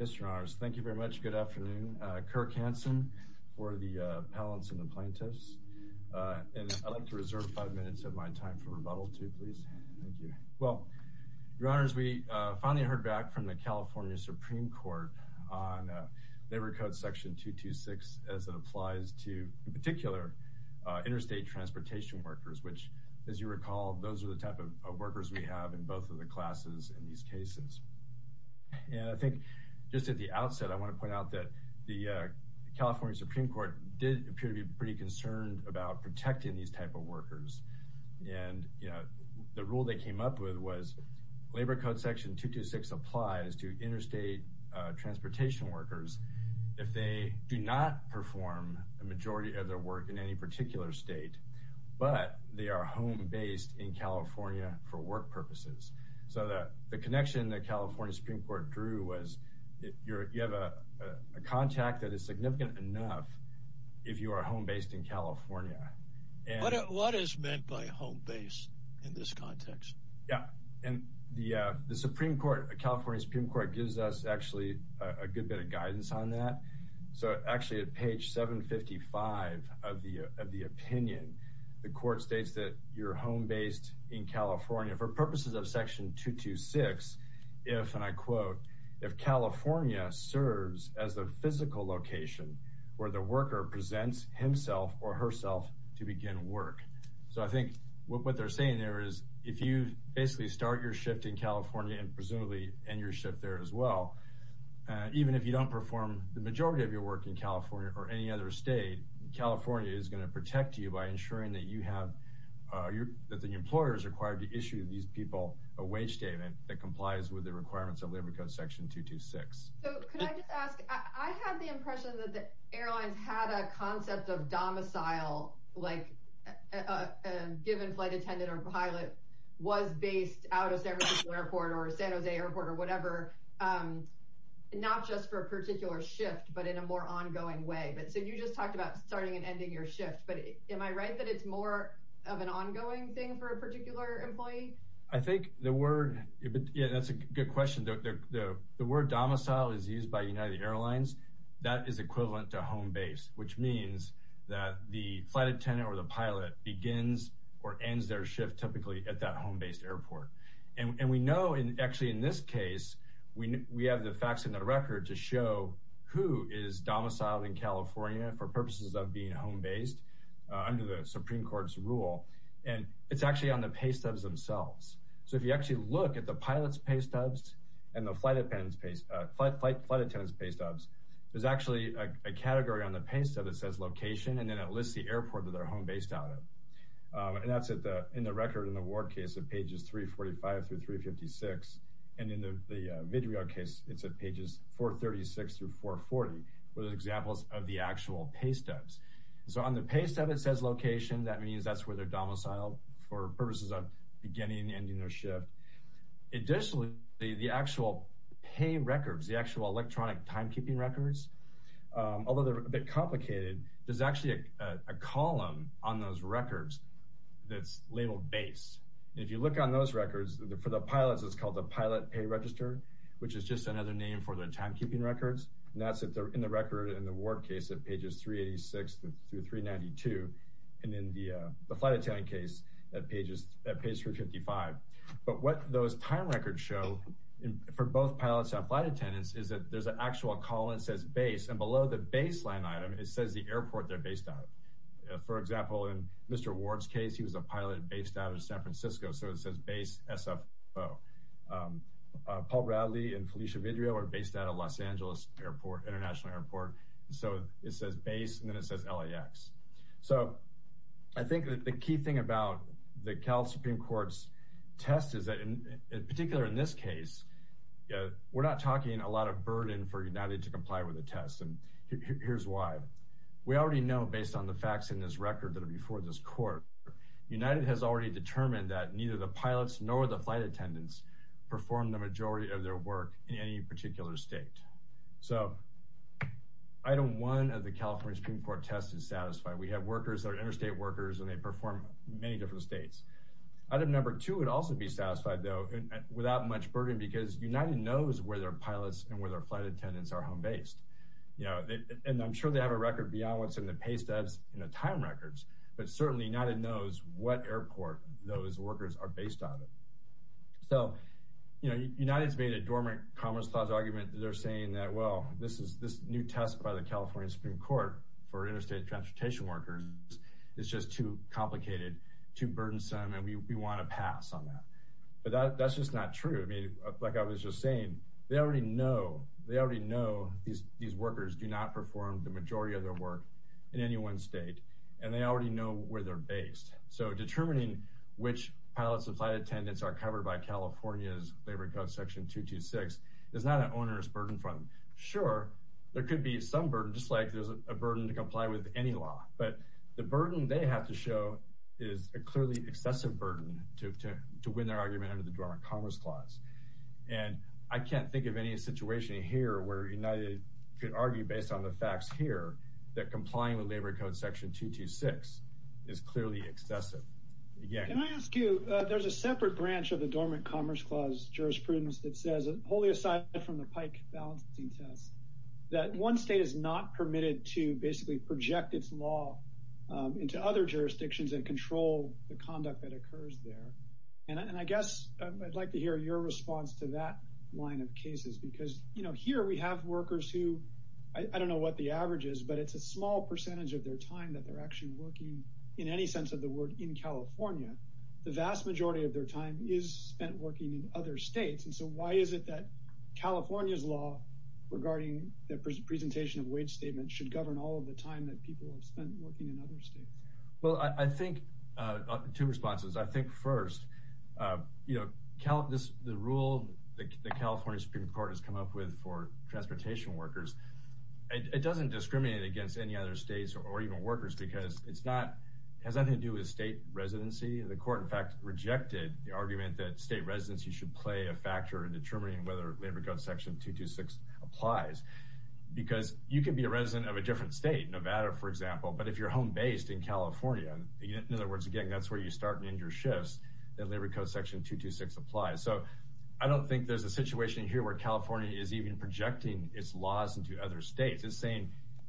Yes, your honors. Thank you very much. Good afternoon. Kirk Hanson for the appellants and the plaintiffs. And I'd like to reserve five minutes of my time for rebuttal, too, please. Thank you. Well, your honors, we finally heard back from the California Supreme Court on Labor Code Section 226 as it applies to, in particular, interstate transportation workers, which, as you recall, those are the type of workers we have in both of the classes in these cases. And I think just at the outset, I want to point out that the California Supreme Court did appear to be pretty concerned about protecting these type of workers. And the rule they came up with was Labor Code Section 226 applies to interstate transportation workers if they do not perform a majority of their work in any particular state, but they are home-based in California for work purposes. So the connection the California Supreme Court drew was you have a contract that is significant enough if you are home-based in California. What is meant by home-based in this context? Yeah. And the California Supreme Court gives us actually a good bit of guidance on that. So actually, at page 755 of the opinion, the court states that you're home-based in California for purposes of Section 226 if, and I quote, if California serves as a physical location where the worker presents himself or herself to begin work. So I think what they're saying there is if you basically start your shift in California and presumably end your shift there as well, even if you don't perform the majority of work in California or any other state, California is going to protect you by ensuring that you have, that the employer is required to issue these people a wage statement that complies with the requirements of Labor Code Section 226. So could I just ask, I had the impression that the airlines had a concept of domicile, like a given flight attendant or pilot was based out of San Francisco Airport or San Jose Airport or whatever, not just for a particular shift, but in a more ongoing way. But so you just talked about starting and ending your shift, but am I right that it's more of an ongoing thing for a particular employee? I think the word, yeah, that's a good question. The word domicile is used by United Airlines. That is equivalent to home-based, which means that the flight attendant or the pilot begins or ends their shift typically at that home-based airport. And we know, actually in this case, we have the facts in the record to show who is domiciled in California for purposes of being home-based under the Supreme Court's rule. And it's actually on the pay stubs themselves. So if you actually look at the pilot's pay stubs and the flight attendant's pay stubs, there's actually a category on the pay stub that says location, and then it lists the airport that they're home-based out of. And that's in the record in the Ward case at pages 345 through 356. And in the Mid-Riod case, it's at pages 436 through 440, where there's examples of the actual pay stubs. So on the pay stub, it says location. That means that's where they're domiciled for purposes of beginning and ending their shift. Additionally, the actual pay records, the actual electronic timekeeping records, although they're a bit If you look on those records, for the pilots, it's called the pilot pay register, which is just another name for the timekeeping records. And that's in the record in the Ward case at pages 386 through 392, and in the flight attendant case at page 355. But what those time records show for both pilots and flight attendants is that there's an actual column that says base, and below the baseline item, it says the airport they're based out of. For example, in Mr. Ward's case, he was a pilot based out of San Francisco, so it says base SFO. Paul Bradley and Felicia Mid-Rio are based out of Los Angeles Airport, International Airport. So it says base, and then it says LAX. So I think that the key thing about the Cal Supreme Court's test is that in particular in this case, we're not talking a lot of burden for United to comply with the test. And here's why. We already know, based on the facts in this record that are before this court, United has already determined that neither the pilots nor the flight attendants perform the majority of their work in any particular state. So item one of the California Supreme Court test is satisfied. We have workers that are interstate workers, and they perform many different states. Item number two would also be satisfied, though, without much burden, because United knows where their pilots and where their flight attendants are home-based. You know, and I'm sure they have a record beyond what's in the pay stubs, you know, time records, but certainly United knows what airport those workers are based out of. So, you know, United's made a dormant commerce clause argument that they're saying that, well, this new test by the California Supreme Court for interstate transportation workers is just too complicated, too burdensome, and we want to pass on that. But that's just not true. I mean, like I was just saying, they already know these workers do not perform the majority of their work in any one state, and they already know where they're based. So determining which pilots and flight attendants are covered by California's labor code section 226 is not an onerous burden for them. Sure, there could be some burden, just like there's a burden to comply with any law, but the burden they have to show is a clearly excessive burden to win their argument under the dormant commerce clause. And I can't think of any situation here where United could argue based on the facts here that complying with labor code section 226 is clearly excessive. Yeah. Can I ask you, there's a separate branch of the dormant commerce clause jurisprudence that says, wholly aside from the pike balancing test, that one state is not permitted to basically project its law into other jurisdictions and control the conduct that occurs there. And I guess I'd like to hear your response to that line of cases, because, you know, here we have workers who, I don't know what the average is, but it's a small percentage of their time that they're actually working in any sense of the word in California. The vast majority of their time is spent working in other states. And so why is it that California's law regarding the presentation of wage statements should govern all of the time that people have spent working in other states? Well, I think, two responses. I think first, you know, the rule that the California Supreme Court has come up with for transportation workers, it doesn't discriminate against any other states or even workers because it's not, has nothing to do with state residency. The court, in fact, rejected the argument that state residency should play a factor in determining whether labor code section 226 applies. Because you can be a resident of a different state, Nevada, for example, but if you're home-based in California, in other words, again, that's where you start and end your shifts, that labor code section 226 applies. So I don't think there's a situation here where California is even projecting its laws into other states. It's saying,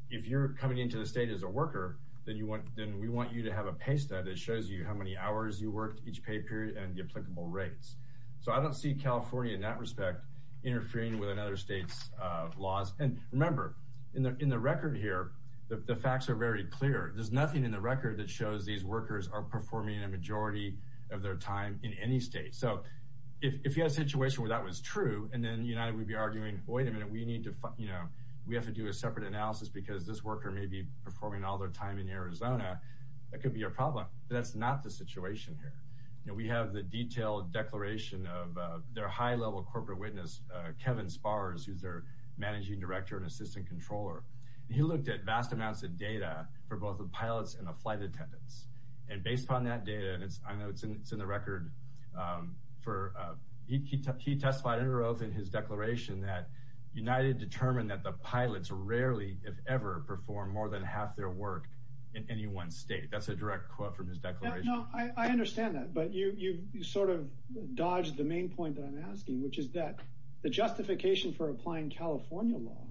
if you're coming into the state as a worker, then we want you to have a pay stat that shows you how many hours you worked each pay period and the applicable rates. So I don't see California in that respect interfering with other states' laws. And remember, in the record here, the facts are very clear. There's nothing in the record that shows these workers are performing a majority of their time in any state. So if you had a situation where that was true, and then United would be arguing, wait a minute, we need to, you know, we have to do a separate analysis because this worker may be performing all their time in Arizona, that could be a problem. That's not the situation here. You know, we have the detailed declaration of their high-level corporate witness, Kevin Spars, who's their managing director and assistant controller. He looked at vast amounts of data for both the pilots and the flight attendants. And based on that data, and I know it's in the record, he testified in his declaration that United determined that the pilots rarely, if ever, perform more than half their work in any one state. That's a direct quote from his declaration. No, I understand that. But you sort of dodged the main point that I'm asking, which is that the justification for applying California law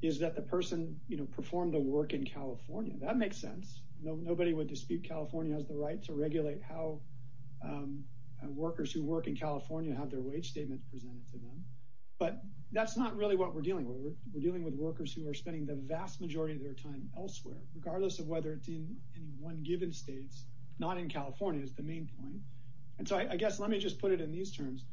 is that the person, you know, performed the work in California. That makes sense. Nobody would dispute California has the right to regulate how workers who work in California have their wage statements presented to them. But that's not really what we're dealing with. We're dealing with workers who are spending the vast majority of their time elsewhere, regardless of whether it's in any one given states, not in California, is the main point. And so I guess let me just put it in these terms.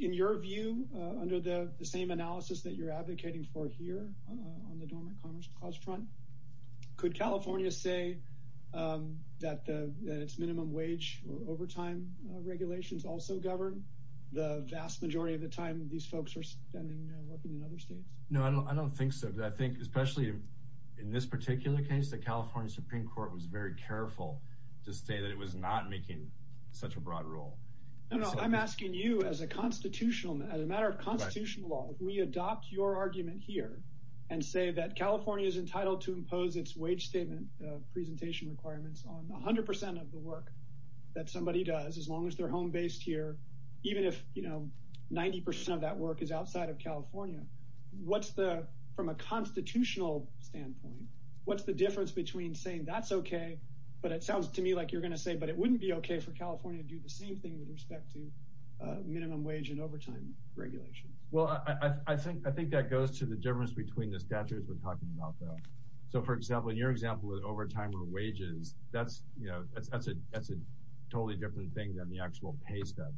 In your view, under the same analysis that you're advocating for here on the Dormant Commerce Clause front, could California say that its minimum wage or overtime regulations also govern the vast majority of the time these folks are spending working in other states? No, I don't think so. I think especially in this particular case, the California Supreme Court was very careful to say that it was not making such a broad rule. No, no, I'm asking you as a constitutional, as a matter of constitutional law, if we adopt your argument here and say that California is entitled to impose its wage statement presentation requirements on 100 percent of the work that somebody does, as long as they're home based here, even if, you know, 90 percent of that work is outside of California. What's the, from a constitutional standpoint, what's the difference between saying that's OK, but it sounds to me like you're going to say, but it wouldn't be OK for California to do the same thing with respect to minimum wage and overtime regulations? Well, I think that goes to the difference between the statutes we're talking about, though. So, for example, in your example of overtime or wages, that's, you know, that's a totally different thing than the actual pay stub.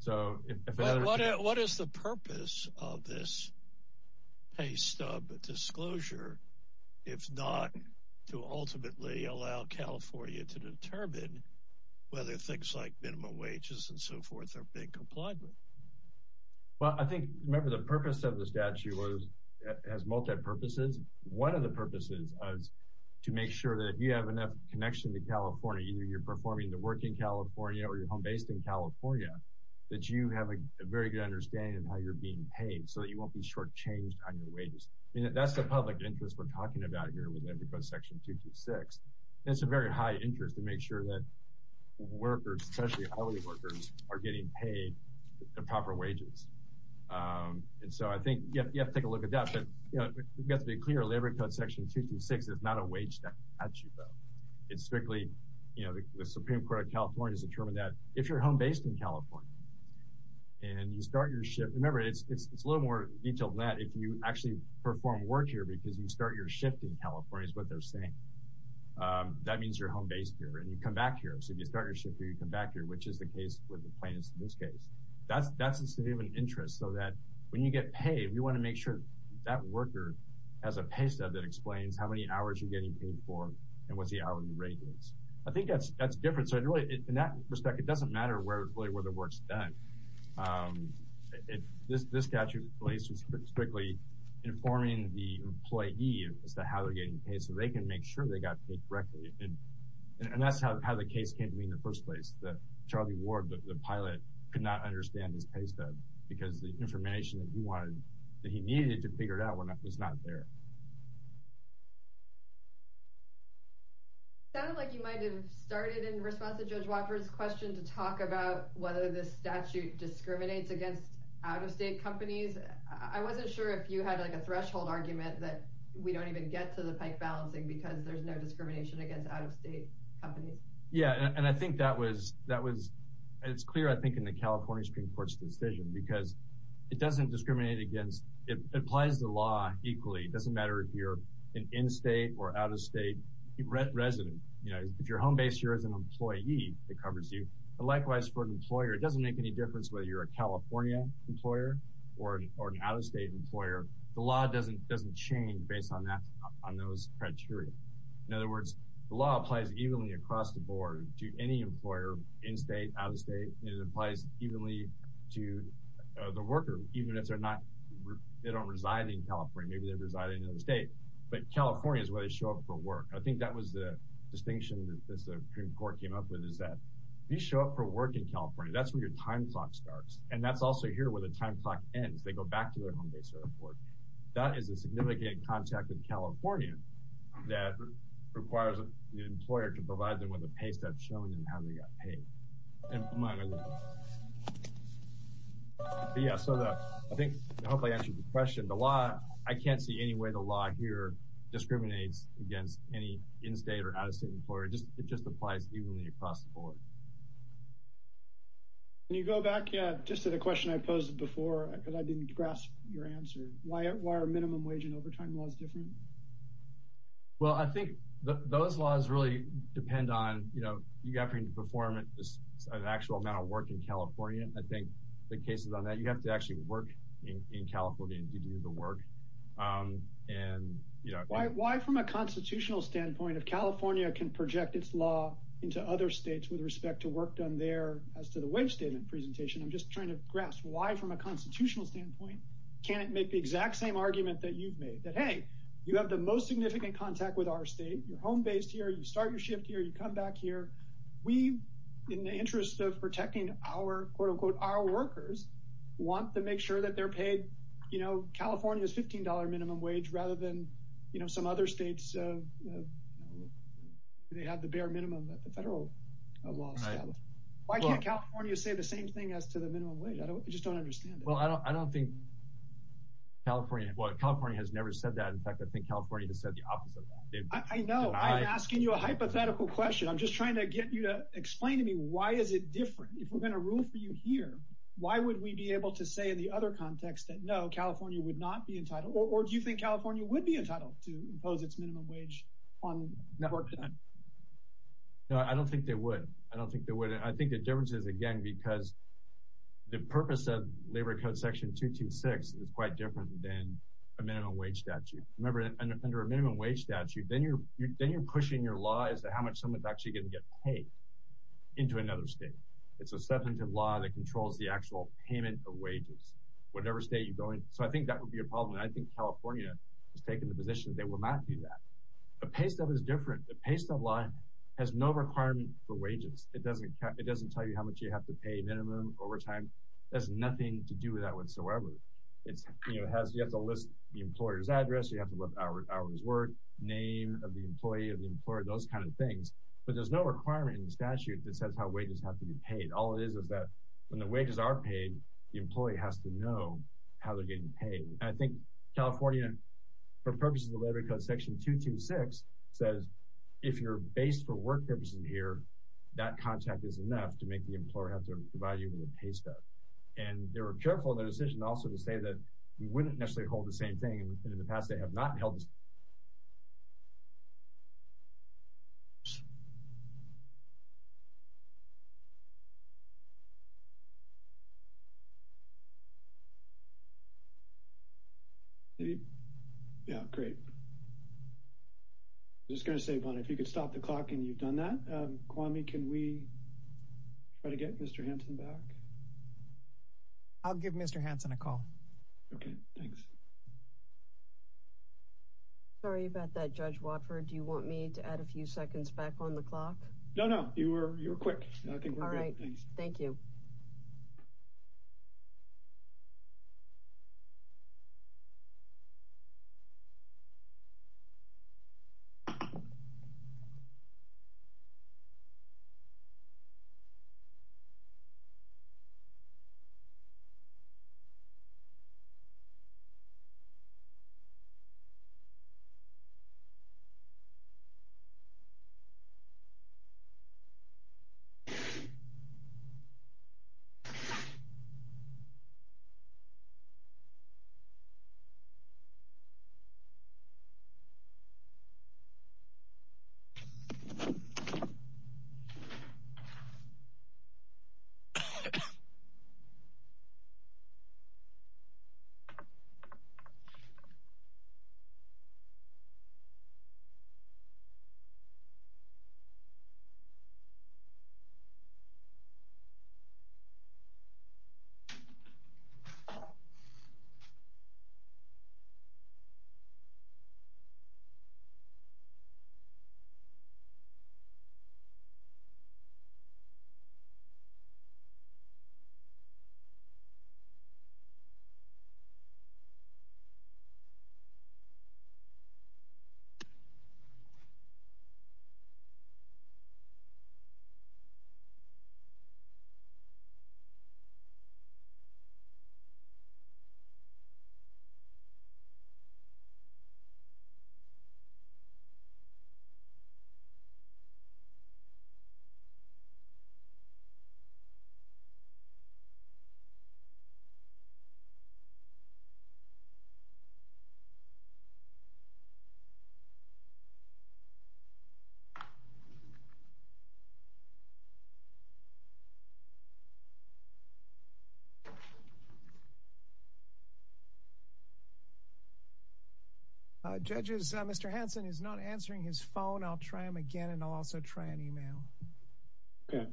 So what is the purpose of this pay stub disclosure, if not to ultimately allow California to determine whether things like minimum wages and so forth are being complied with? Well, I think, remember, the purpose of the statute was as multipurposes. One of the purposes is to make sure that you have enough connection to California, either you're performing the work in California or you're home based in California, that you have a very good understanding of how you're being paid so that you won't be shortchanged on your wages. I mean, that's the public interest we're talking about here with Labor Code Section 226. It's a very high interest to make sure that workers, especially hourly workers, are getting paid the proper wages. And so I think you have to take a look at that. But, we've got to be clear, Labor Code Section 226 is not a wage statute, though. It's strictly, you know, the Supreme Court of California has determined that if you're home based in California and you start your shift—remember, it's a little more detailed than that—if you actually perform work here because you start your shift in California is what they're saying. That means you're home based here and you come back here. So if you start your shift here, you come back here, which is the case with the plaintiffs in this case. That's a significant interest so that when you get paid, you want to make sure that worker has a pay stub that explains how many hours you're getting paid for and what's the hourly rate is. I think that's different. So really, in that respect, it doesn't matter really where the work's done. This statute in place is strictly informing the employee as to how they're getting paid so they can make sure they got paid correctly. And that's how the case came to be in the first place. Charlie Ward, the pilot, could not understand his pay stub because the information that he needed to figure it out was not there. Sounded like you might have started in response to Judge Walker's question to talk about whether this statute discriminates against out-of-state companies. I wasn't sure if you had like a threshold argument that we don't even get to the pike balancing because there's no it's clear I think in the California Supreme Court's decision because it doesn't discriminate against it applies the law equally. It doesn't matter if you're an in-state or out-of-state resident. If your home base here is an employee, it covers you. But likewise for an employer, it doesn't make any difference whether you're a California employer or an out-of-state employer. The law doesn't change based on that on those criteria. In other words, the law applies evenly across the board to any employer in-state, out-of-state. It applies evenly to the worker, even if they're not they don't reside in California. Maybe they reside in another state. But California is where they show up for work. I think that was the distinction that the Supreme Court came up with is that you show up for work in California. That's where your time clock starts. And that's also here where the time clock ends. They go back to their home base for work. That is a significant contact with California that requires the employer to provide them with a pay step showing them how they got paid. I think I hope I answered the question. The law, I can't see any way the law here discriminates against any in-state or out-of-state employer. It just applies evenly across the board. Can you go back just to the question I posed before because I didn't grasp your answer? Why are minimum wage and overtime laws different? Well, I think those laws really depend on, you know, you have to perform an actual amount of work in California. I think the cases on that, you have to actually work in California to do the work. Why from a constitutional standpoint, if California can project its law into other states with respect to work done there as to the wage statement presentation? I'm just that you've made that, hey, you have the most significant contact with our state. You're home-based here. You start your shift here. You come back here. We, in the interest of protecting our, quote, unquote, our workers, want to make sure that they're paid, you know, California's $15 minimum wage rather than, you know, some other states. They have the bare minimum that the federal law. Why can't California say the same thing as to the minimum wage? I just don't understand. Well, I don't think California, well, California has never said that. In fact, I think California has said the opposite. I know. I'm asking you a hypothetical question. I'm just trying to get you to explain to me why is it different? If we're going to rule for you here, why would we be able to say in the other context that no, California would not be entitled? Or do you think California would be entitled to impose its minimum wage on work done? No, I don't think they would. I don't think they would. I think the difference is, again, because the purpose of Labor Code Section 226 is quite different than a minimum wage statute. Remember, under a minimum wage statute, then you're pushing your law as to how much someone's actually going to get paid into another state. It's a substantive law that controls the actual payment of wages, whatever state you go in. So I think that would be a problem. And I think California has taken the position that they will not do that. A pay stub is different. The pay stub law has no requirement for wages. It doesn't tell you how much you have to pay minimum overtime. It has nothing to do with that whatsoever. You have to list the employer's address. You have to list the employer's work, name of the employee, of the employer, those kind of things. But there's no requirement in the statute that says how wages have to be paid. All it is is that when the wages are paid, the employee has to know how they're getting paid. And I think California, for purposes of the Labor Code Section 226, says if you're based for work purposes here, that contract is enough to make the employer have to provide you with a pay stub. And they were careful in their decision also to say that we wouldn't necessarily hold the same thing. And in the past, they have not held the same thing. Yeah, great. I was just going to say, Bonnie, if you could stop the clock and you've done that. Kwame, can we try to get Mr. Hansen back? I'll give Mr. Hansen a call. Okay, thanks. Sorry about that, Judge Watford. Do you want me to add a few seconds back on the clock? No, no. You were quick. I think we're good. All right. Thank you. Okay. Judges, Mr. Hansen is not answering his phone. I'll try him again, and I'll also try an email. Okay.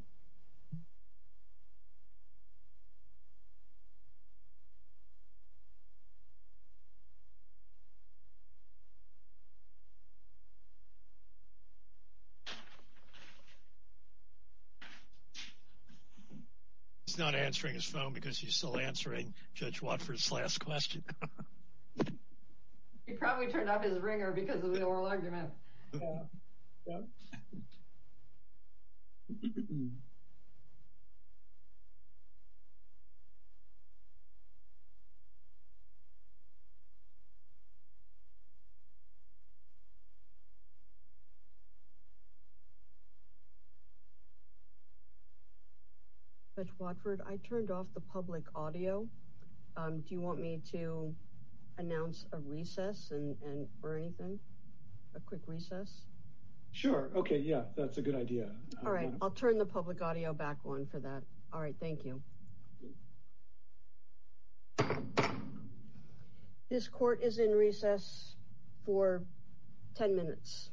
He's not answering his phone because he's still answering Judge Watford's last question. He probably turned off his ringer because of the oral argument. Mm-hmm. Judge Watford, I turned off the public audio. Do you want me to announce a recess or anything? A quick recess? Sure. Okay. Yeah, that's a good idea. All right. I'll turn the public audio back on for that. All right. Thank you. This court is in recess for 10 minutes.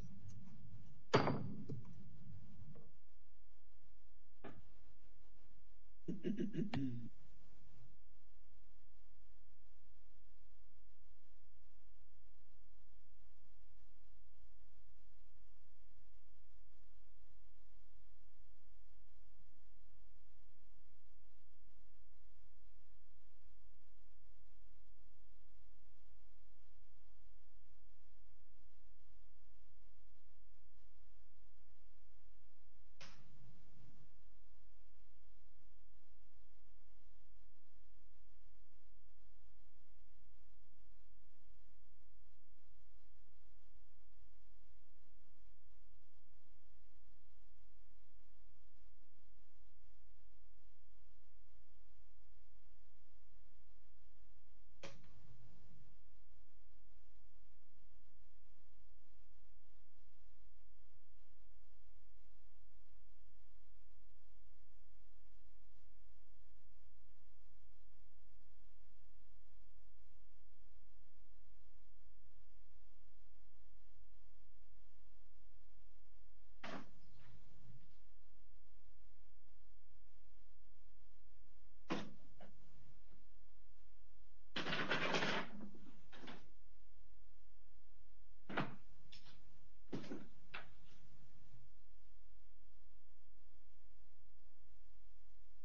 Okay. Okay.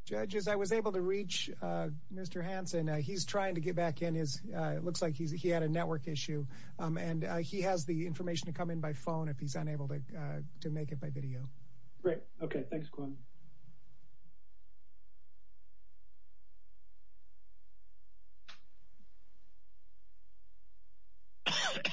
Judges, I was able to reach Mr. Hansen. He's trying to get back in. It looks like he had network issue, and he has the information to come in by phone if he's unable to make it by video. Great. Okay. Thanks, Quinn. Okay. Okay.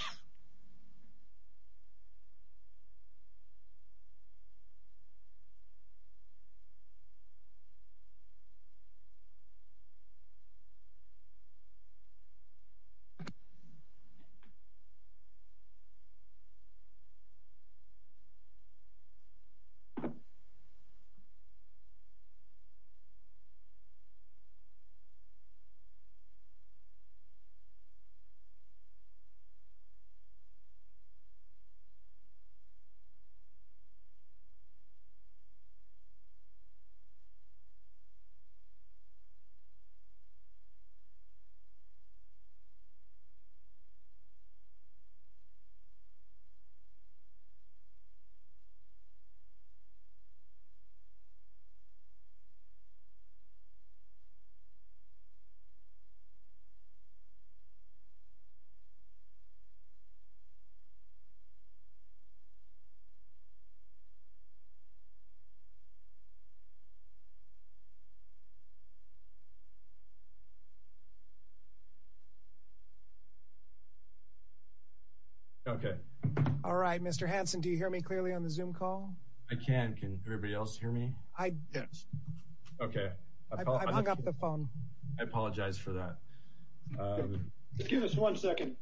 Okay. All right. Mr. Hansen, do you hear me clearly on the Zoom call? I can. Can everybody else hear me? Yes. Okay. I've hung up the phone. I apologize for that. Just give us one second.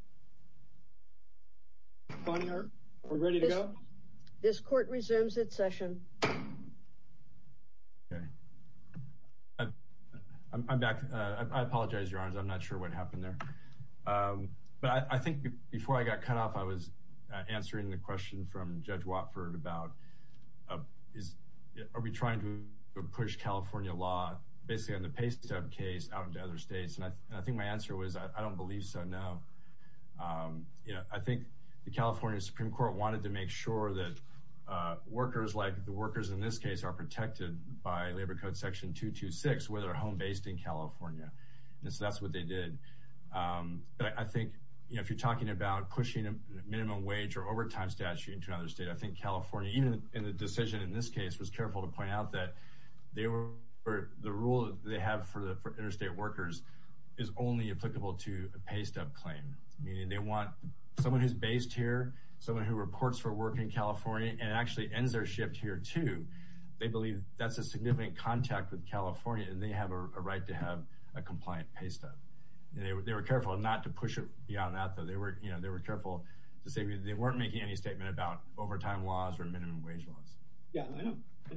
We're ready to go? This court resumes its session. Okay. I'm back. I apologize, Your Honors. I'm not sure what happened there. But I think before I got cut off, I was answering the question from Judge Watford about are we trying to push California law, basically on the pay stub case, out into other states. And I think my answer was, I don't believe so, no. You know, I think the California Supreme Court wanted to make sure that workers, like the workers in this case, are protected by Labor Code Section 226, whether they're home-based in California. And so that's what they did. But I think, you know, if you're talking about pushing a minimum wage or overtime statute into another state, I think California, even in the decision in this case, was careful to point out that the rule that they have for interstate workers is only applicable to a pay stub claim. Meaning they want someone who's based here, someone who reports for work in California, and actually ends their shift here, too. They believe that's a significant contact with California, and they have a right to have a compliant pay stub. They were careful not to push it beyond that, though. They were careful to say they weren't making any statement about overtime laws or minimum wage laws. Yeah, I know, I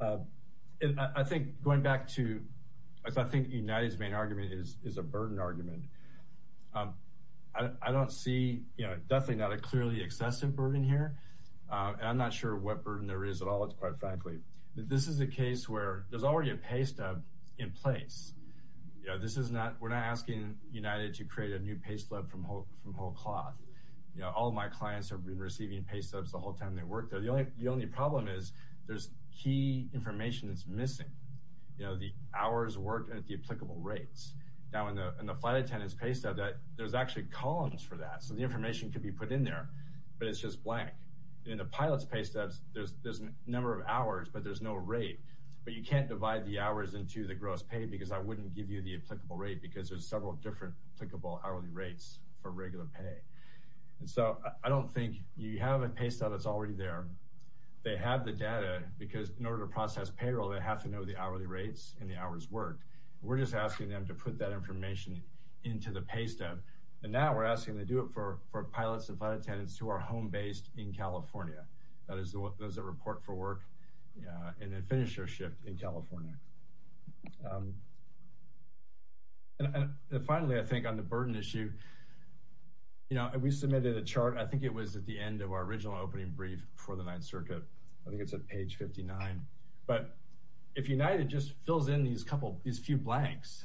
know. And I think going back to, I think United's main argument is a burden argument. I don't see, you know, definitely not a clearly excessive burden here. And I'm not sure what burden there is at all, quite frankly. This is a case where there's already a pay stub in place. You know, this is not, we're not asking United to create a new pay stub from whole cloth. You know, all of my clients have been receiving pay stubs the whole time they work there. The only problem is there's key information that's missing. You know, the hours worked at the applicable rates. Now, in the flight attendant's pay stub, there's actually columns for that. So the information can be put in there, but it's just blank. In the pilot's pay stubs, there's a number of hours, but there's no rate. But you can't divide the hours into the gross pay because I wouldn't give you the applicable rate because there's several different applicable hourly rates for regular pay. And so I don't think you have a pay stub that's already there. They have the data because in order to process payroll, they have to know the hourly rates and the hours worked. We're just asking them to put that information into the pay stub. And now we're asking them to do it for pilots and flight attendants who are home-based in California. That is, those that report for work and then finish their shift in California. And finally, I think on the burden issue, you know, we submitted a chart. I think it was at the end of our original opening brief for the Ninth Circuit. I think it's at page 59. But if United just fills in these couple, these few blanks,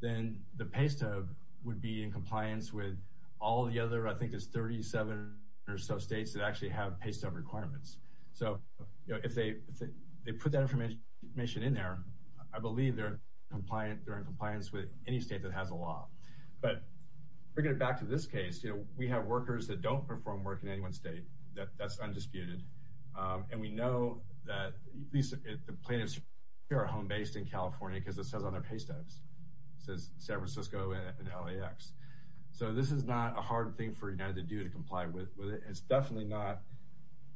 then the pay stub would be in compliance with all the other, I think it's 37 or so states that actually have pay stub requirements. So, you know, if they put that information in there, I believe they're in compliance with any state that has a law. But bringing it back to this case, you know, we have workers that don't perform work in any one state. That's undisputed. And we know that the plaintiffs are home-based in California because it says on their pay stubs. It says San Francisco and LAX. So this is not a hard thing for United to do to comply with it. It's definitely not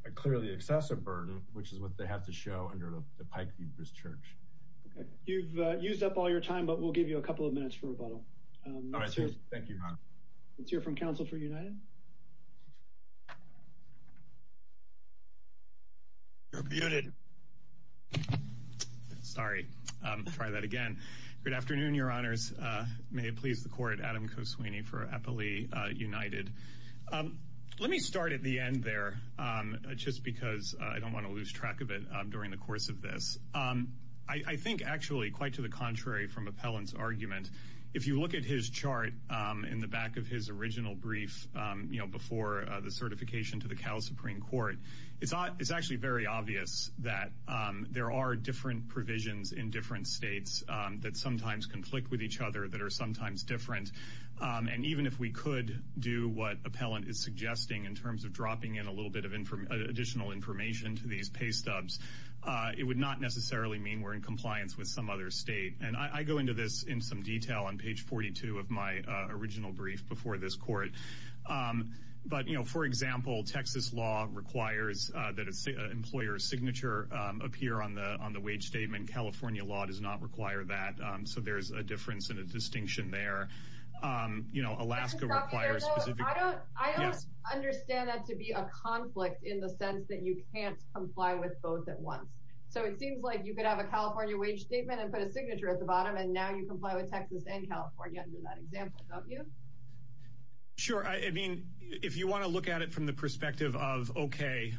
a clearly excessive burden, which is what they have to show under the Pike View Brisk Church. You've used up all your time, but we'll give you a couple of minutes for rebuttal. Thank you. Let's hear from counsel for United. Rebutted. Sorry. Try that again. Good afternoon, Your Honors. May it please the court, Adam Koswini for Eppley United. Let me start at the end there, just because I don't want to lose track of it during the course of this. And if you look at his chart in the back of his original brief, you know, before the certification to the Cal Supreme Court, it's actually very obvious that there are different provisions in different states that sometimes conflict with each other, that are sometimes different. And even if we could do what appellant is suggesting in terms of dropping in a little bit of additional information to these pay stubs, it would not necessarily mean we're in compliance with some other state. And I go into this in some detail on page 42 of my original brief before this court. But, you know, for example, Texas law requires that an employer's signature appear on the on the wage statement. California law does not require that. So there's a difference and a distinction there. You know, Alaska requires specific. I don't understand that to be a conflict in the sense that you can't comply with both at once. So it seems like you could have a California wage statement and put a signature at the bottom. And now you comply with Texas and California under that example. Don't you? Sure. I mean, if you want to look at it from the perspective of, OK,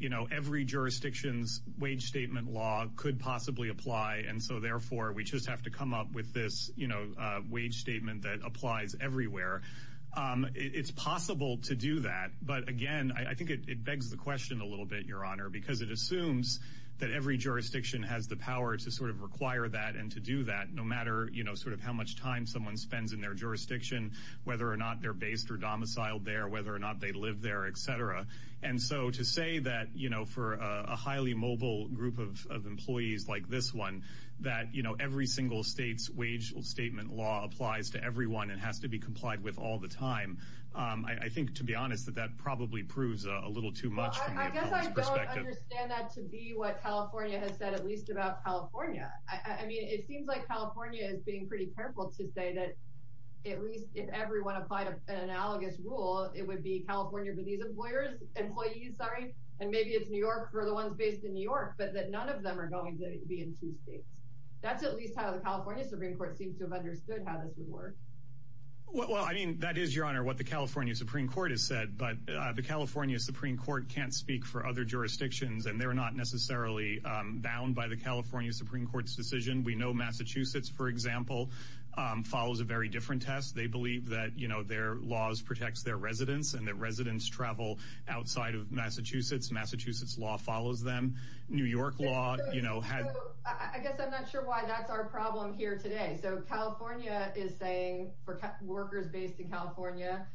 you know, every jurisdiction's wage statement law could possibly apply. And so, therefore, we just have to come up with this, you know, wage statement that applies everywhere. It's possible to do that. But, again, I think it begs the question a little bit, Your Honor, because it assumes that every jurisdiction has the power to sort of require that and to do that, no matter, you know, sort of how much time someone spends in their jurisdiction, whether or not they're based or domiciled there, whether or not they live there, et cetera. And so to say that, you know, for a highly mobile group of employees like this one, that, you know, every single state's wage statement law applies to everyone and has to be complied with all the time. I think, to be honest, that that probably proves a little too much. I guess I don't understand that to be what California has said, at least about California. I mean, it seems like California is being pretty careful to say that at least if everyone applied an analogous rule, it would be California for these employers, employees, sorry, and maybe it's New York for the ones based in New York, but that none of them are going to be in two states. That's at least how the California Supreme Court seems to have understood how this would work. Well, I mean, that is, your honor, what the California Supreme Court has said. But the California Supreme Court can't speak for other jurisdictions and they're not necessarily bound by the California Supreme Court's decision. We know Massachusetts, for example, follows a very different test. They believe that, you know, their laws protects their residents and their residents travel outside of Massachusetts. Massachusetts law follows them. New York law, you know, I guess I'm not sure why that's our problem here today. So California is saying for workers based in California,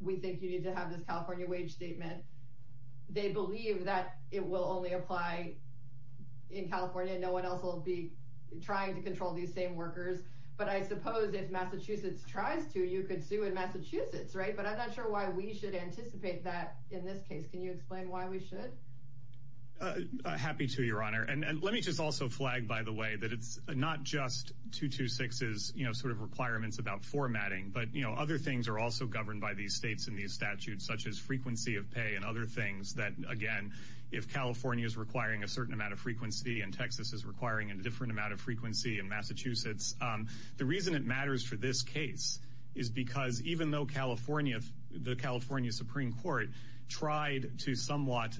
we think you need to have this California wage statement. They believe that it will only apply in California. No one else will be trying to control these same workers. But I suppose if Massachusetts tries to, you could sue in Massachusetts. Right. But I'm not sure why we should anticipate that in this case. Can you explain why we should. Happy to, your honor. And let me just also flag, by the way, that it's not just two to six is, you know, sort of requirements about formatting. But, you know, other things are also governed by these states in these statutes, such as frequency of pay and other things that, again, if California is requiring a certain amount of frequency and Texas is requiring a different amount of frequency in Massachusetts. The reason it matters for this case is because even though California, the California Supreme Court tried to somewhat,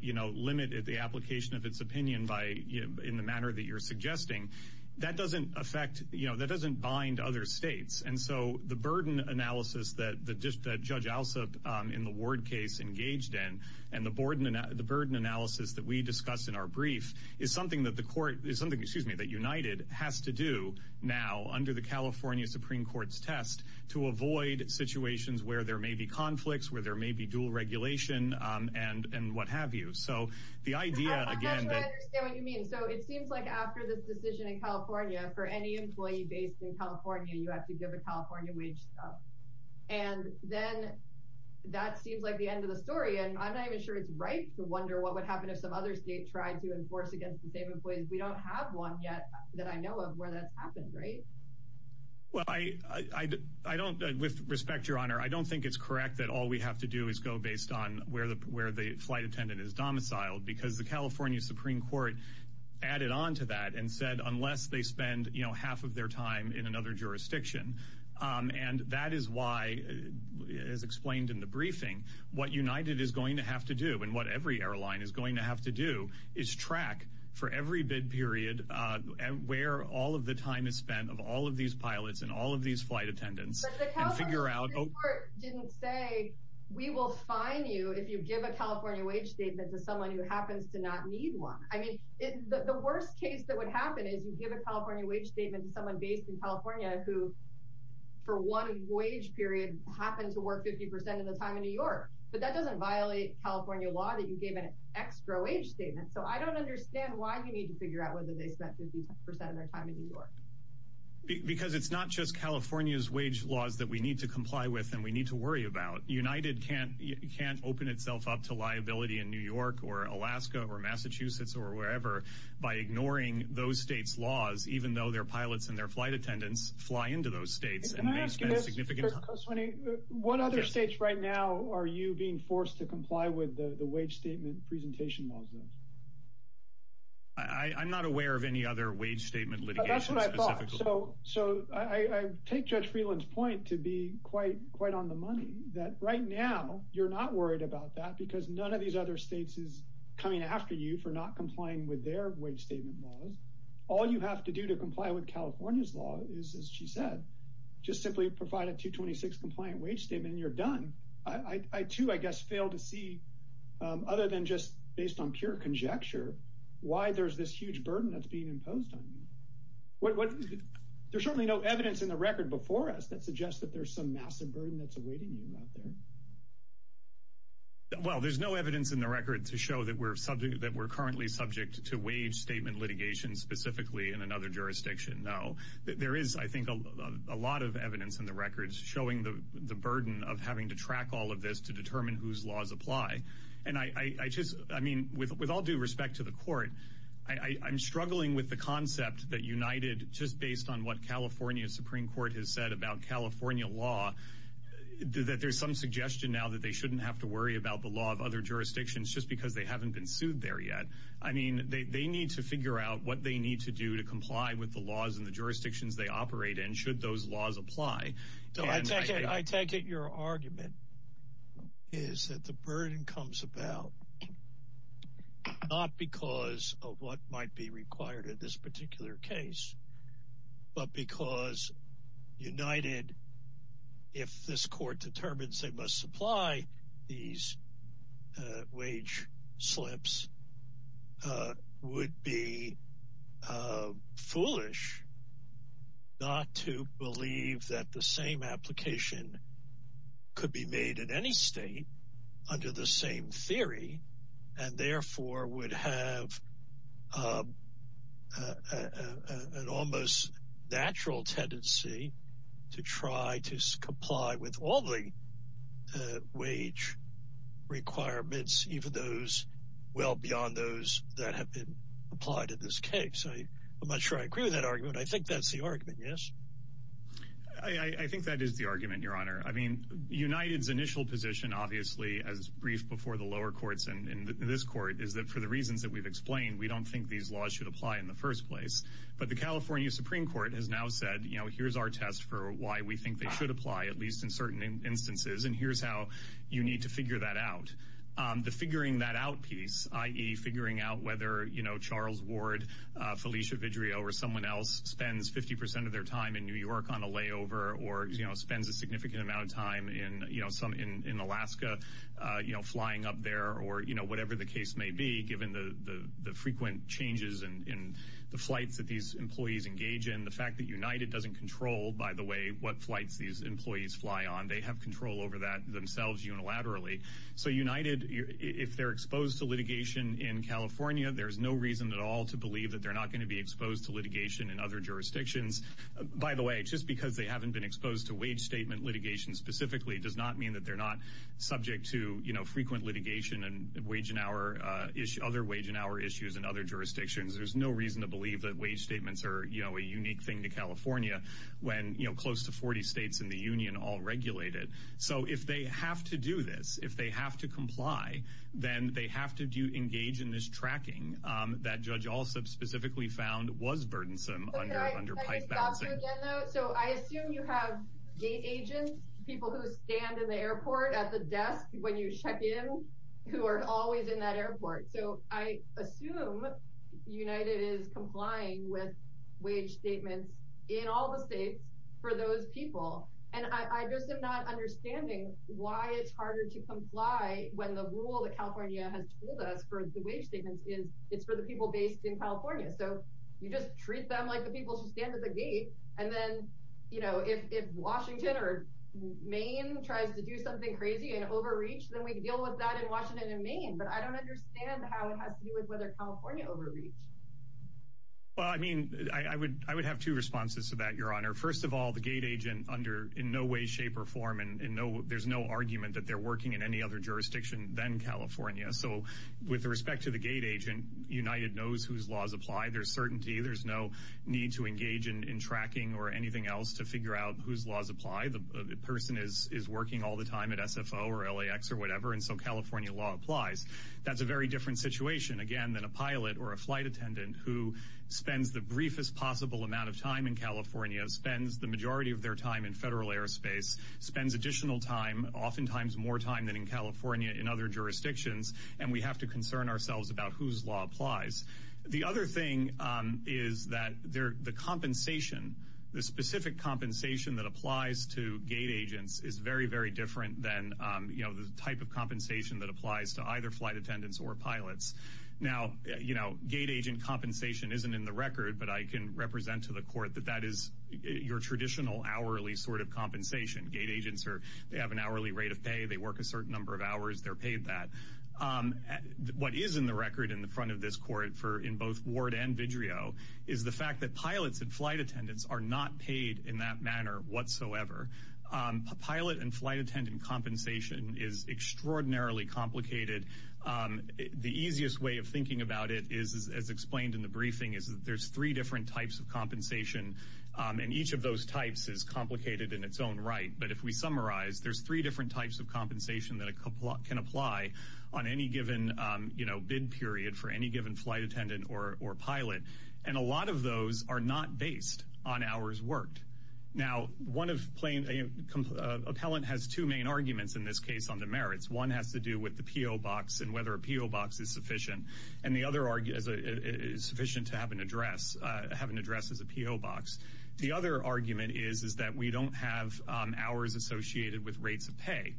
you know, limit the application of its opinion by in the manner that you're suggesting, that doesn't affect, you know, that doesn't bind other states. And so the burden analysis that the judge also in the word case engaged in and the board and the burden analysis that we discussed in our brief is something that the court is something. Excuse me, that United has to do now under the California Supreme Court's test to avoid situations where there may be conflicts, where there may be dual regulation and what have you. So the idea, again, what you mean. So it seems like after this decision in California for any employee based in California, you have to give a California wage. And then that seems like the end of the story. And I'm not even sure it's right to wonder what would happen if some other state tried to enforce against the same employees. We don't have one yet that I know of where that's happened. Right. Well, I, I don't. With respect, Your Honor, I don't think it's correct that all we have to do is go based on where the where the flight attendant is domiciled, because the California Supreme Court added on to that and said unless they spend half of their time in another jurisdiction. And that is why, as explained in the briefing, what United is going to have to do and what every airline is going to have to do is track for every bid period and where all of the time is spent of all of these pilots and all of these flight attendants. Figure out didn't say we will find you if you give a California wage statement to someone who happens to not need one. I mean, the worst case that would happen is you give a California wage statement to someone based in California who for one wage period happened to work 50 percent of the time in New York. But that doesn't violate California law that you gave an extra wage statement. So I don't understand why you need to figure out whether they spent 50 percent of their time in New York. Because it's not just California's wage laws that we need to comply with and we need to worry about. United can't can't open itself up to liability in New York or Alaska or Massachusetts or wherever by ignoring those states laws, even though their pilots and their flight attendants fly into those states. Can I ask you this? What other states right now are you being forced to comply with the wage statement presentation laws? I'm not aware of any other wage statement, but that's what I thought. So so I take Judge Freeland's point to be quite, quite on the money that right now you're not worried about that because none of these other states is coming after you for not complying with their wage statement laws. All you have to do to comply with California's law is, as she said, just simply provide a 226 compliant wage statement and you're done. I, too, I guess, fail to see, other than just based on pure conjecture, why there's this huge burden that's being imposed on you. There's certainly no evidence in the record before us that suggests that there's some massive burden that's awaiting you out there. Well, there's no evidence in the record to show that we're subject that we're currently subject to wage statement litigation specifically in another jurisdiction. No, there is, I think, a lot of evidence in the records showing the burden of having to track all of this to determine whose laws apply. And I just I mean, with all due respect to the court, I'm struggling with the concept that United, just based on what California Supreme Court has said about California law, that there's some suggestion now that they shouldn't have to worry about the law of other jurisdictions just because they haven't been sued there yet. I mean, they need to figure out what they need to do to comply with the laws and the jurisdictions they operate in. Should those laws apply? I take it your argument is that the burden comes about not because of what might be required in this particular case, but because United, if this court determines they must supply these wage slips, would be foolish not to believe that the same application could be made in any state under the same theory, and therefore would have an almost natural tendency to try to comply with all the wage requirements, even those well beyond those that have been applied in this case. So I'm not sure I agree with that argument. I think that's the argument. Yes, I think that is the argument, Your Honor. I mean, United's initial position, obviously, as briefed before the lower courts and this court, is that for the reasons that we've explained, we don't think these laws should apply in the first place. But the California Supreme Court has now said, you know, here's our test for why we think they should apply, at least in certain instances, and here's how you need to figure that out. The figuring that out piece, i.e., figuring out whether, you know, Charles Ward, Felicia Vidrio, or someone else spends 50 percent of their time in New York on a layover or, you know, spends a significant amount of time in Alaska, you know, flying up there, or, you know, whatever the case may be, given the frequent changes in the flights that these employees engage in, the fact that United doesn't control, by the way, what flights these employees fly on. They have control over that themselves unilaterally. So, United, if they're exposed to litigation in California, there's no reason at all to believe that they're not going to be exposed to litigation in other jurisdictions. By the way, just because they haven't been exposed to wage statement litigation specifically does not mean that they're not subject to, you know, frequent litigation and other wage and hour issues in other jurisdictions. There's no reason to believe that wage statements are, you know, a unique thing to California when, you know, close to 40 states in the union all regulate it. So, if they have to do this, if they have to comply, then they have to engage in this tracking that Judge Alsop specifically found was burdensome under pipe balancing. Okay, can I just stop you again, though? So, I assume you have gate agents, people who stand in the airport at the desk when you check in, who are always in that airport. So, I assume United is complying with wage statements in all the states for those people. And I just am not understanding why it's harder to comply when the rule that California has told us for the wage statements is it's for the people based in California. So, you just treat them like the people who stand at the gate, and then, you know, if Washington or Maine tries to do something crazy and overreach, then we can deal with that in Washington and Maine. But I don't understand how it has to do with whether California overreach. Well, I mean, I would have two responses to that, Your Honor. First of all, the gate agent under in no way, shape, or form, and there's no argument that they're working in any other jurisdiction than California. So, with respect to the gate agent, United knows whose laws apply. There's certainty. There's no need to engage in tracking or anything else to figure out whose laws apply. The person is working all the time at SFO or LAX or whatever, and so California law applies. That's a very different situation, again, than a pilot or a flight attendant who spends the briefest possible amount of time in California, spends the majority of their time in federal airspace, spends additional time, oftentimes more time than in California in other jurisdictions. And we have to concern ourselves about whose law applies. The other thing is that the compensation, the specific compensation that applies to gate agents is very, very different than, you know, the type of compensation that applies to either flight attendants or pilots. Now, you know, gate agent compensation isn't in the record, but I can represent to the court that that is your traditional hourly sort of compensation. Gate agents, they have an hourly rate of pay. They work a certain number of hours. They're paid that. What is in the record in the front of this court in both Ward and Vidrio is the fact that pilots and flight attendants are not paid in that manner whatsoever. Pilot and flight attendant compensation is extraordinarily complicated. The easiest way of thinking about it is, as explained in the briefing, is that there's three different types of compensation, and each of those types is complicated in its own right. But if we summarize, there's three different types of compensation that can apply on any given, you know, bid period for any given flight attendant or pilot. And a lot of those are not based on hours worked. Now, one of plain, an appellant has two main arguments in this case on the merits. One has to do with the P.O. box and whether a P.O. box is sufficient. And the other is sufficient to have an address, have an address as a P.O. box. The other argument is, is that we don't have hours associated with rates of pay.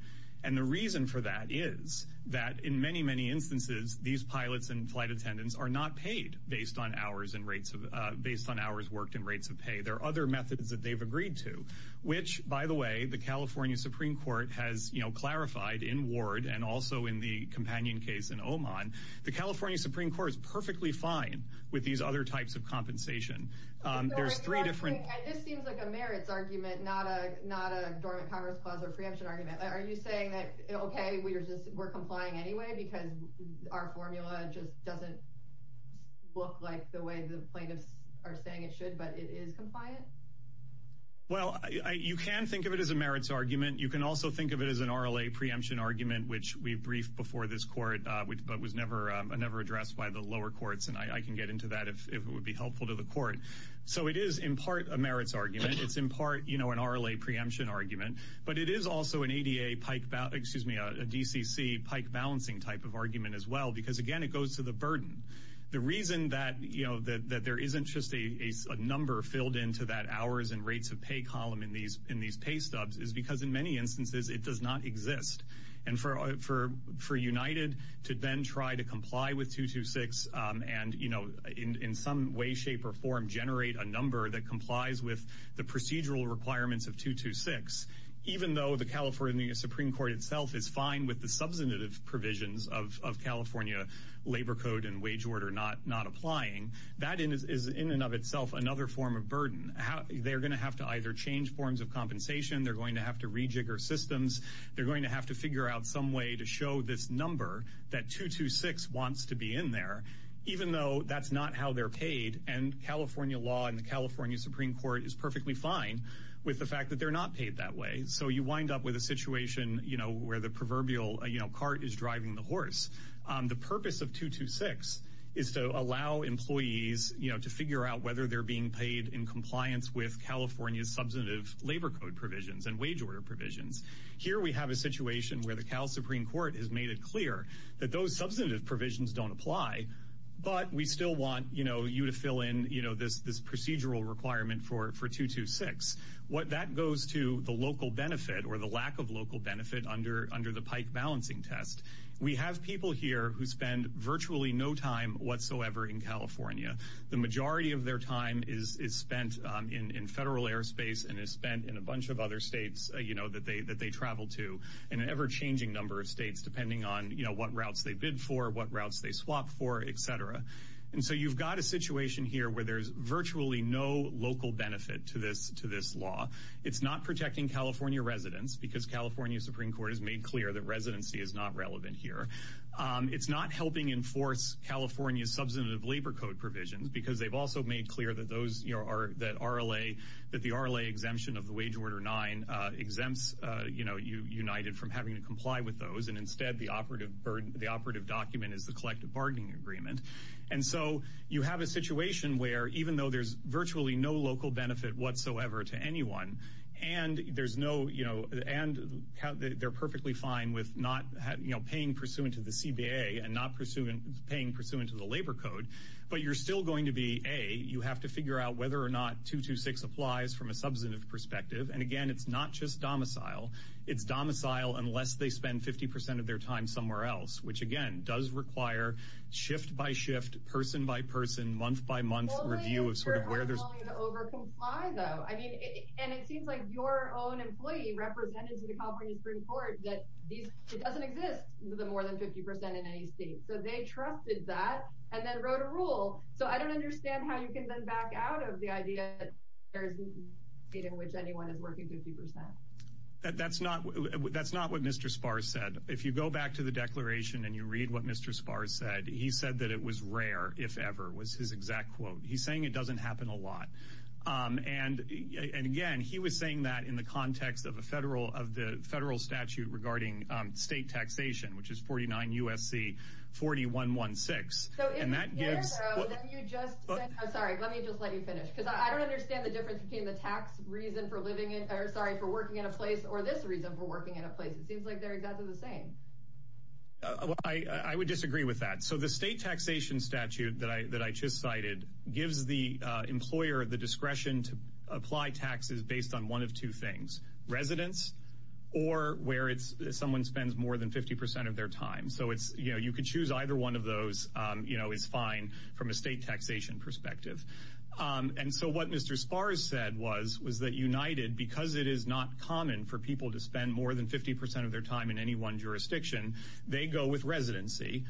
And the reason for that is that in many, many instances, these pilots and flight attendants are not paid based on hours and rates of based on hours worked in rates of pay. There are other methods that they've agreed to, which, by the way, the California Supreme Court has clarified in Ward and also in the companion case in Oman. The California Supreme Court is perfectly fine with these other types of compensation. There's three different. And this seems like a merits argument, not a not a dormant Congress clause or preemption argument. Are you saying that? OK, we're just we're complying anyway because our formula just doesn't look like the way the plaintiffs are saying it should. But it is compliant. Well, you can think of it as a merits argument. You can also think of it as an R.L.A. preemption argument, which we've briefed before this court, but was never never addressed by the lower courts. And I can get into that if it would be helpful to the court. So it is, in part, a merits argument. It's, in part, you know, an R.L.A. preemption argument. But it is also an A.D.A. pike, excuse me, a D.C.C. pike balancing type of argument as well, because, again, it goes to the burden. The reason that, you know, that there isn't just a number filled into that hours and rates of pay column in these in these pay stubs is because in many instances it does not exist. And for for for United to then try to comply with 226 and, you know, in some way, shape or form, generate a number that complies with the procedural requirements of 226, even though the California Supreme Court itself is fine with the substantive provisions of California labor code and wage order not not applying, that is in and of itself another form of burden. They're going to have to either change forms of compensation. They're going to have to rejigger systems. They're going to have to figure out some way to show this number that 226 wants to be in there, even though that's not how they're paid. And California law and the California Supreme Court is perfectly fine with the fact that they're not paid that way. So you wind up with a situation where the proverbial cart is driving the horse. The purpose of 226 is to allow employees to figure out whether they're being paid in compliance with California's substantive labor code provisions and wage order provisions. Here we have a situation where the Supreme Court has made it clear that those substantive provisions don't apply. But we still want you to fill in this procedural requirement for 226. What that goes to the local benefit or the lack of local benefit under under the pike balancing test. We have people here who spend virtually no time whatsoever in California. The majority of their time is spent in federal airspace and is spent in a bunch of other states that they that they travel to in an ever changing number of states, depending on what routes they bid for, what routes they swap for, et cetera. And so you've got a situation here where there's virtually no local benefit to this, to this law. It's not protecting California residents because California Supreme Court has made clear that residency is not relevant here. It's not helping enforce California's substantive labor code provisions because they've also made clear that those are that R.L.A., that the R.L.A. exemption of the wage order nine exempts, you know, you united from having to comply with those. And instead, the operative burden, the operative document is the collective bargaining agreement. And so you have a situation where even though there's virtually no local benefit whatsoever to anyone and there's no you know, and they're perfectly fine with not paying pursuant to the CBA and not pursuing paying pursuant to the labor code. But you're still going to be a you have to figure out whether or not 226 applies from a substantive perspective. And again, it's not just domicile. It's domicile unless they spend 50 percent of their time somewhere else, which, again, does require shift by shift, person by person, month by month review of sort of where there's over comply, though. I mean, and it seems like your own employee represented to the California Supreme Court that it doesn't exist. The more than 50 percent in any state. So they trusted that and then wrote a rule. So I don't understand how you can then back out of the idea that there is a state in which anyone is working 50 percent. That's not what that's not what Mr. Sparks said. If you go back to the declaration and you read what Mr. Sparks said, he said that it was rare if ever was his exact quote. He's saying it doesn't happen a lot. And again, he was saying that in the context of a federal of the federal statute regarding state taxation, which is forty nine USC, forty one, one, six. And that gives you just. I'm sorry. Let me just let you finish, because I don't understand the difference between the tax reason for living in or sorry for working in a place or this reason for working in a place. It seems like they're exactly the same. I would disagree with that. So the state taxation statute that I that I just cited gives the employer the discretion to apply taxes based on one of two things. Residents or where it's someone spends more than 50 percent of their time. So it's you know, you could choose either one of those, you know, is fine from a state taxation perspective. And so what Mr. Sparks said was, was that United, because it is not common for people to spend more than 50 percent of their time in any one jurisdiction, they go with residency,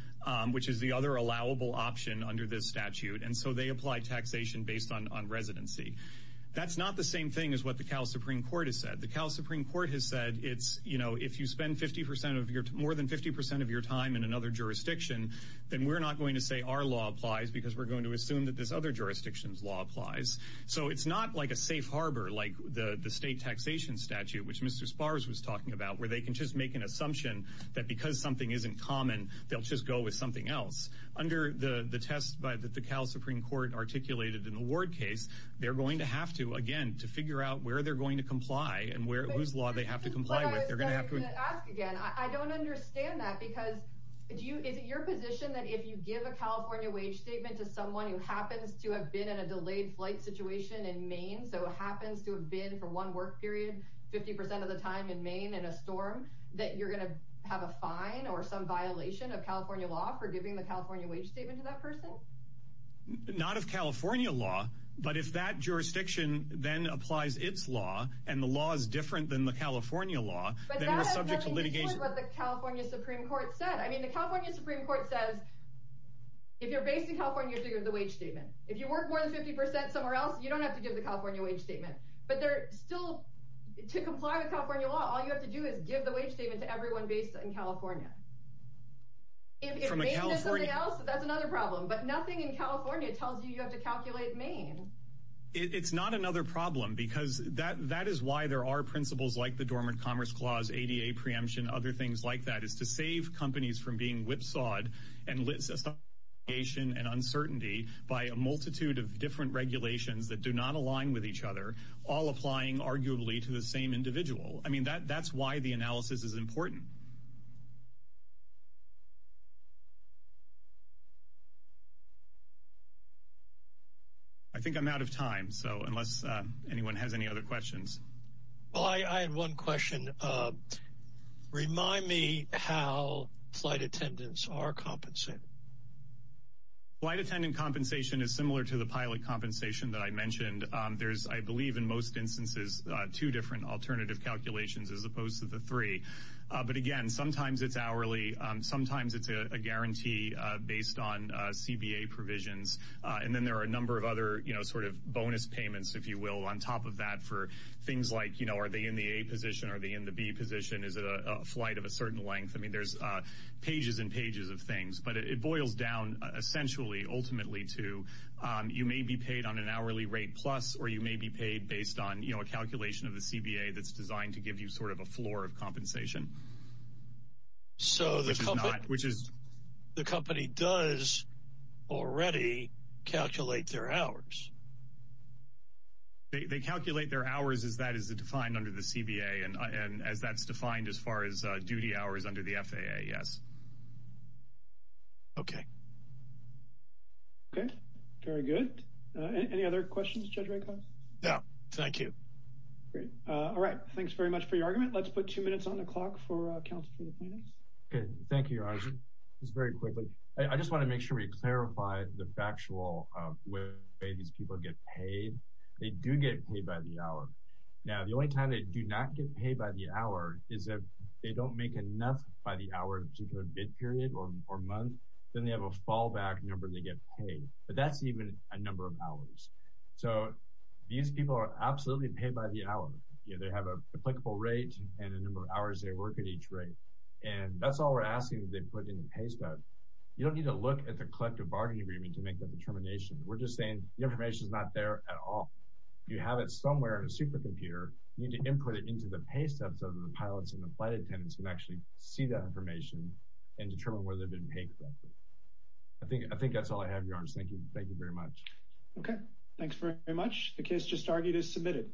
which is the other allowable option under this statute. And so they apply taxation based on residency. That's not the same thing as what the Supreme Court has said. The Supreme Court has said it's, you know, if you spend 50 percent of your more than 50 percent of your time in another jurisdiction, then we're not going to say our law applies because we're going to assume that this other jurisdictions law applies. So it's not like a safe harbor, like the state taxation statute, which Mr. Sparks was talking about, where they can just make an assumption that because something isn't common, they'll just go with something else under the test. But that the Supreme Court articulated in the ward case, they're going to have to, again, to figure out where they're going to comply and where whose law they have to comply with. They're going to have to ask again. I don't understand that because do you. Is it your position that if you give a California wage statement to someone who happens to have been in a delayed flight situation in Maine, so happens to have been for one work period, 50 percent of the time in Maine and a storm that you're going to have a fine or some violation of California law for giving the California wage statement to that person? Not of California law, but if that jurisdiction then applies its law and the law is different than the California law, then we're subject to litigation. But that has nothing to do with what the California Supreme Court said. I mean, the California Supreme Court says if you're based in California, you have to give the wage statement. If you work more than 50 percent somewhere else, you don't have to give the California wage statement. But they're still, to comply with California law, all you have to do is give the wage statement to everyone based in California. If Maine has something else, that's another problem. But nothing in California tells you you have to calculate Maine. It's not another problem because that is why there are principles like the Dormant Commerce Clause, ADA preemption, other things like that, is to save companies from being whipsawed and litigation and uncertainty by a multitude of different regulations that do not align with each other, all applying arguably to the same individual. I mean, that's why the analysis is important. Thank you. I think I'm out of time, so unless anyone has any other questions. Well, I had one question. Remind me how flight attendants are compensated. Flight attendant compensation is similar to the pilot compensation that I mentioned. There's, I believe, in most instances, two different alternative calculations as opposed to the three. But, again, sometimes it's hourly. Sometimes it's a guarantee based on CBA provisions. And then there are a number of other sort of bonus payments, if you will, on top of that for things like, you know, are they in the A position? Are they in the B position? Is it a flight of a certain length? I mean, there's pages and pages of things. But it boils down essentially, ultimately, to you may be paid on an hourly rate plus, or you may be paid based on, you know, a calculation of the CBA that's designed to give you sort of a floor of compensation. So the company does already calculate their hours. They calculate their hours as that is defined under the CBA and as that's defined as far as duty hours under the FAA, yes. Okay. Okay. Very good. Great. Any other questions, Judge Raycox? No. Thank you. Great. All right. Thanks very much for your argument. Let's put two minutes on the clock for counsel for the plaintiffs. Okay. Thank you, Roger. Just very quickly, I just want to make sure we clarify the factual way these people get paid. They do get paid by the hour. Now, the only time they do not get paid by the hour is if they don't make enough by the hour of a particular bid period or month, then they have a fallback number they get paid. But that's even a number of hours. So these people are absolutely paid by the hour. They have an applicable rate and the number of hours they work at each rate. And that's all we're asking that they put in the pay stub. You don't need to look at the collective bargaining agreement to make that determination. We're just saying the information is not there at all. You have it somewhere in a supercomputer. You need to input it into the pay stub so that the pilots and the flight attendants can actually see that information and determine whether they've been paid correctly. I think that's all I have, Your Honor. Thank you very much. Okay. Thanks very much. The case just argued is submitted.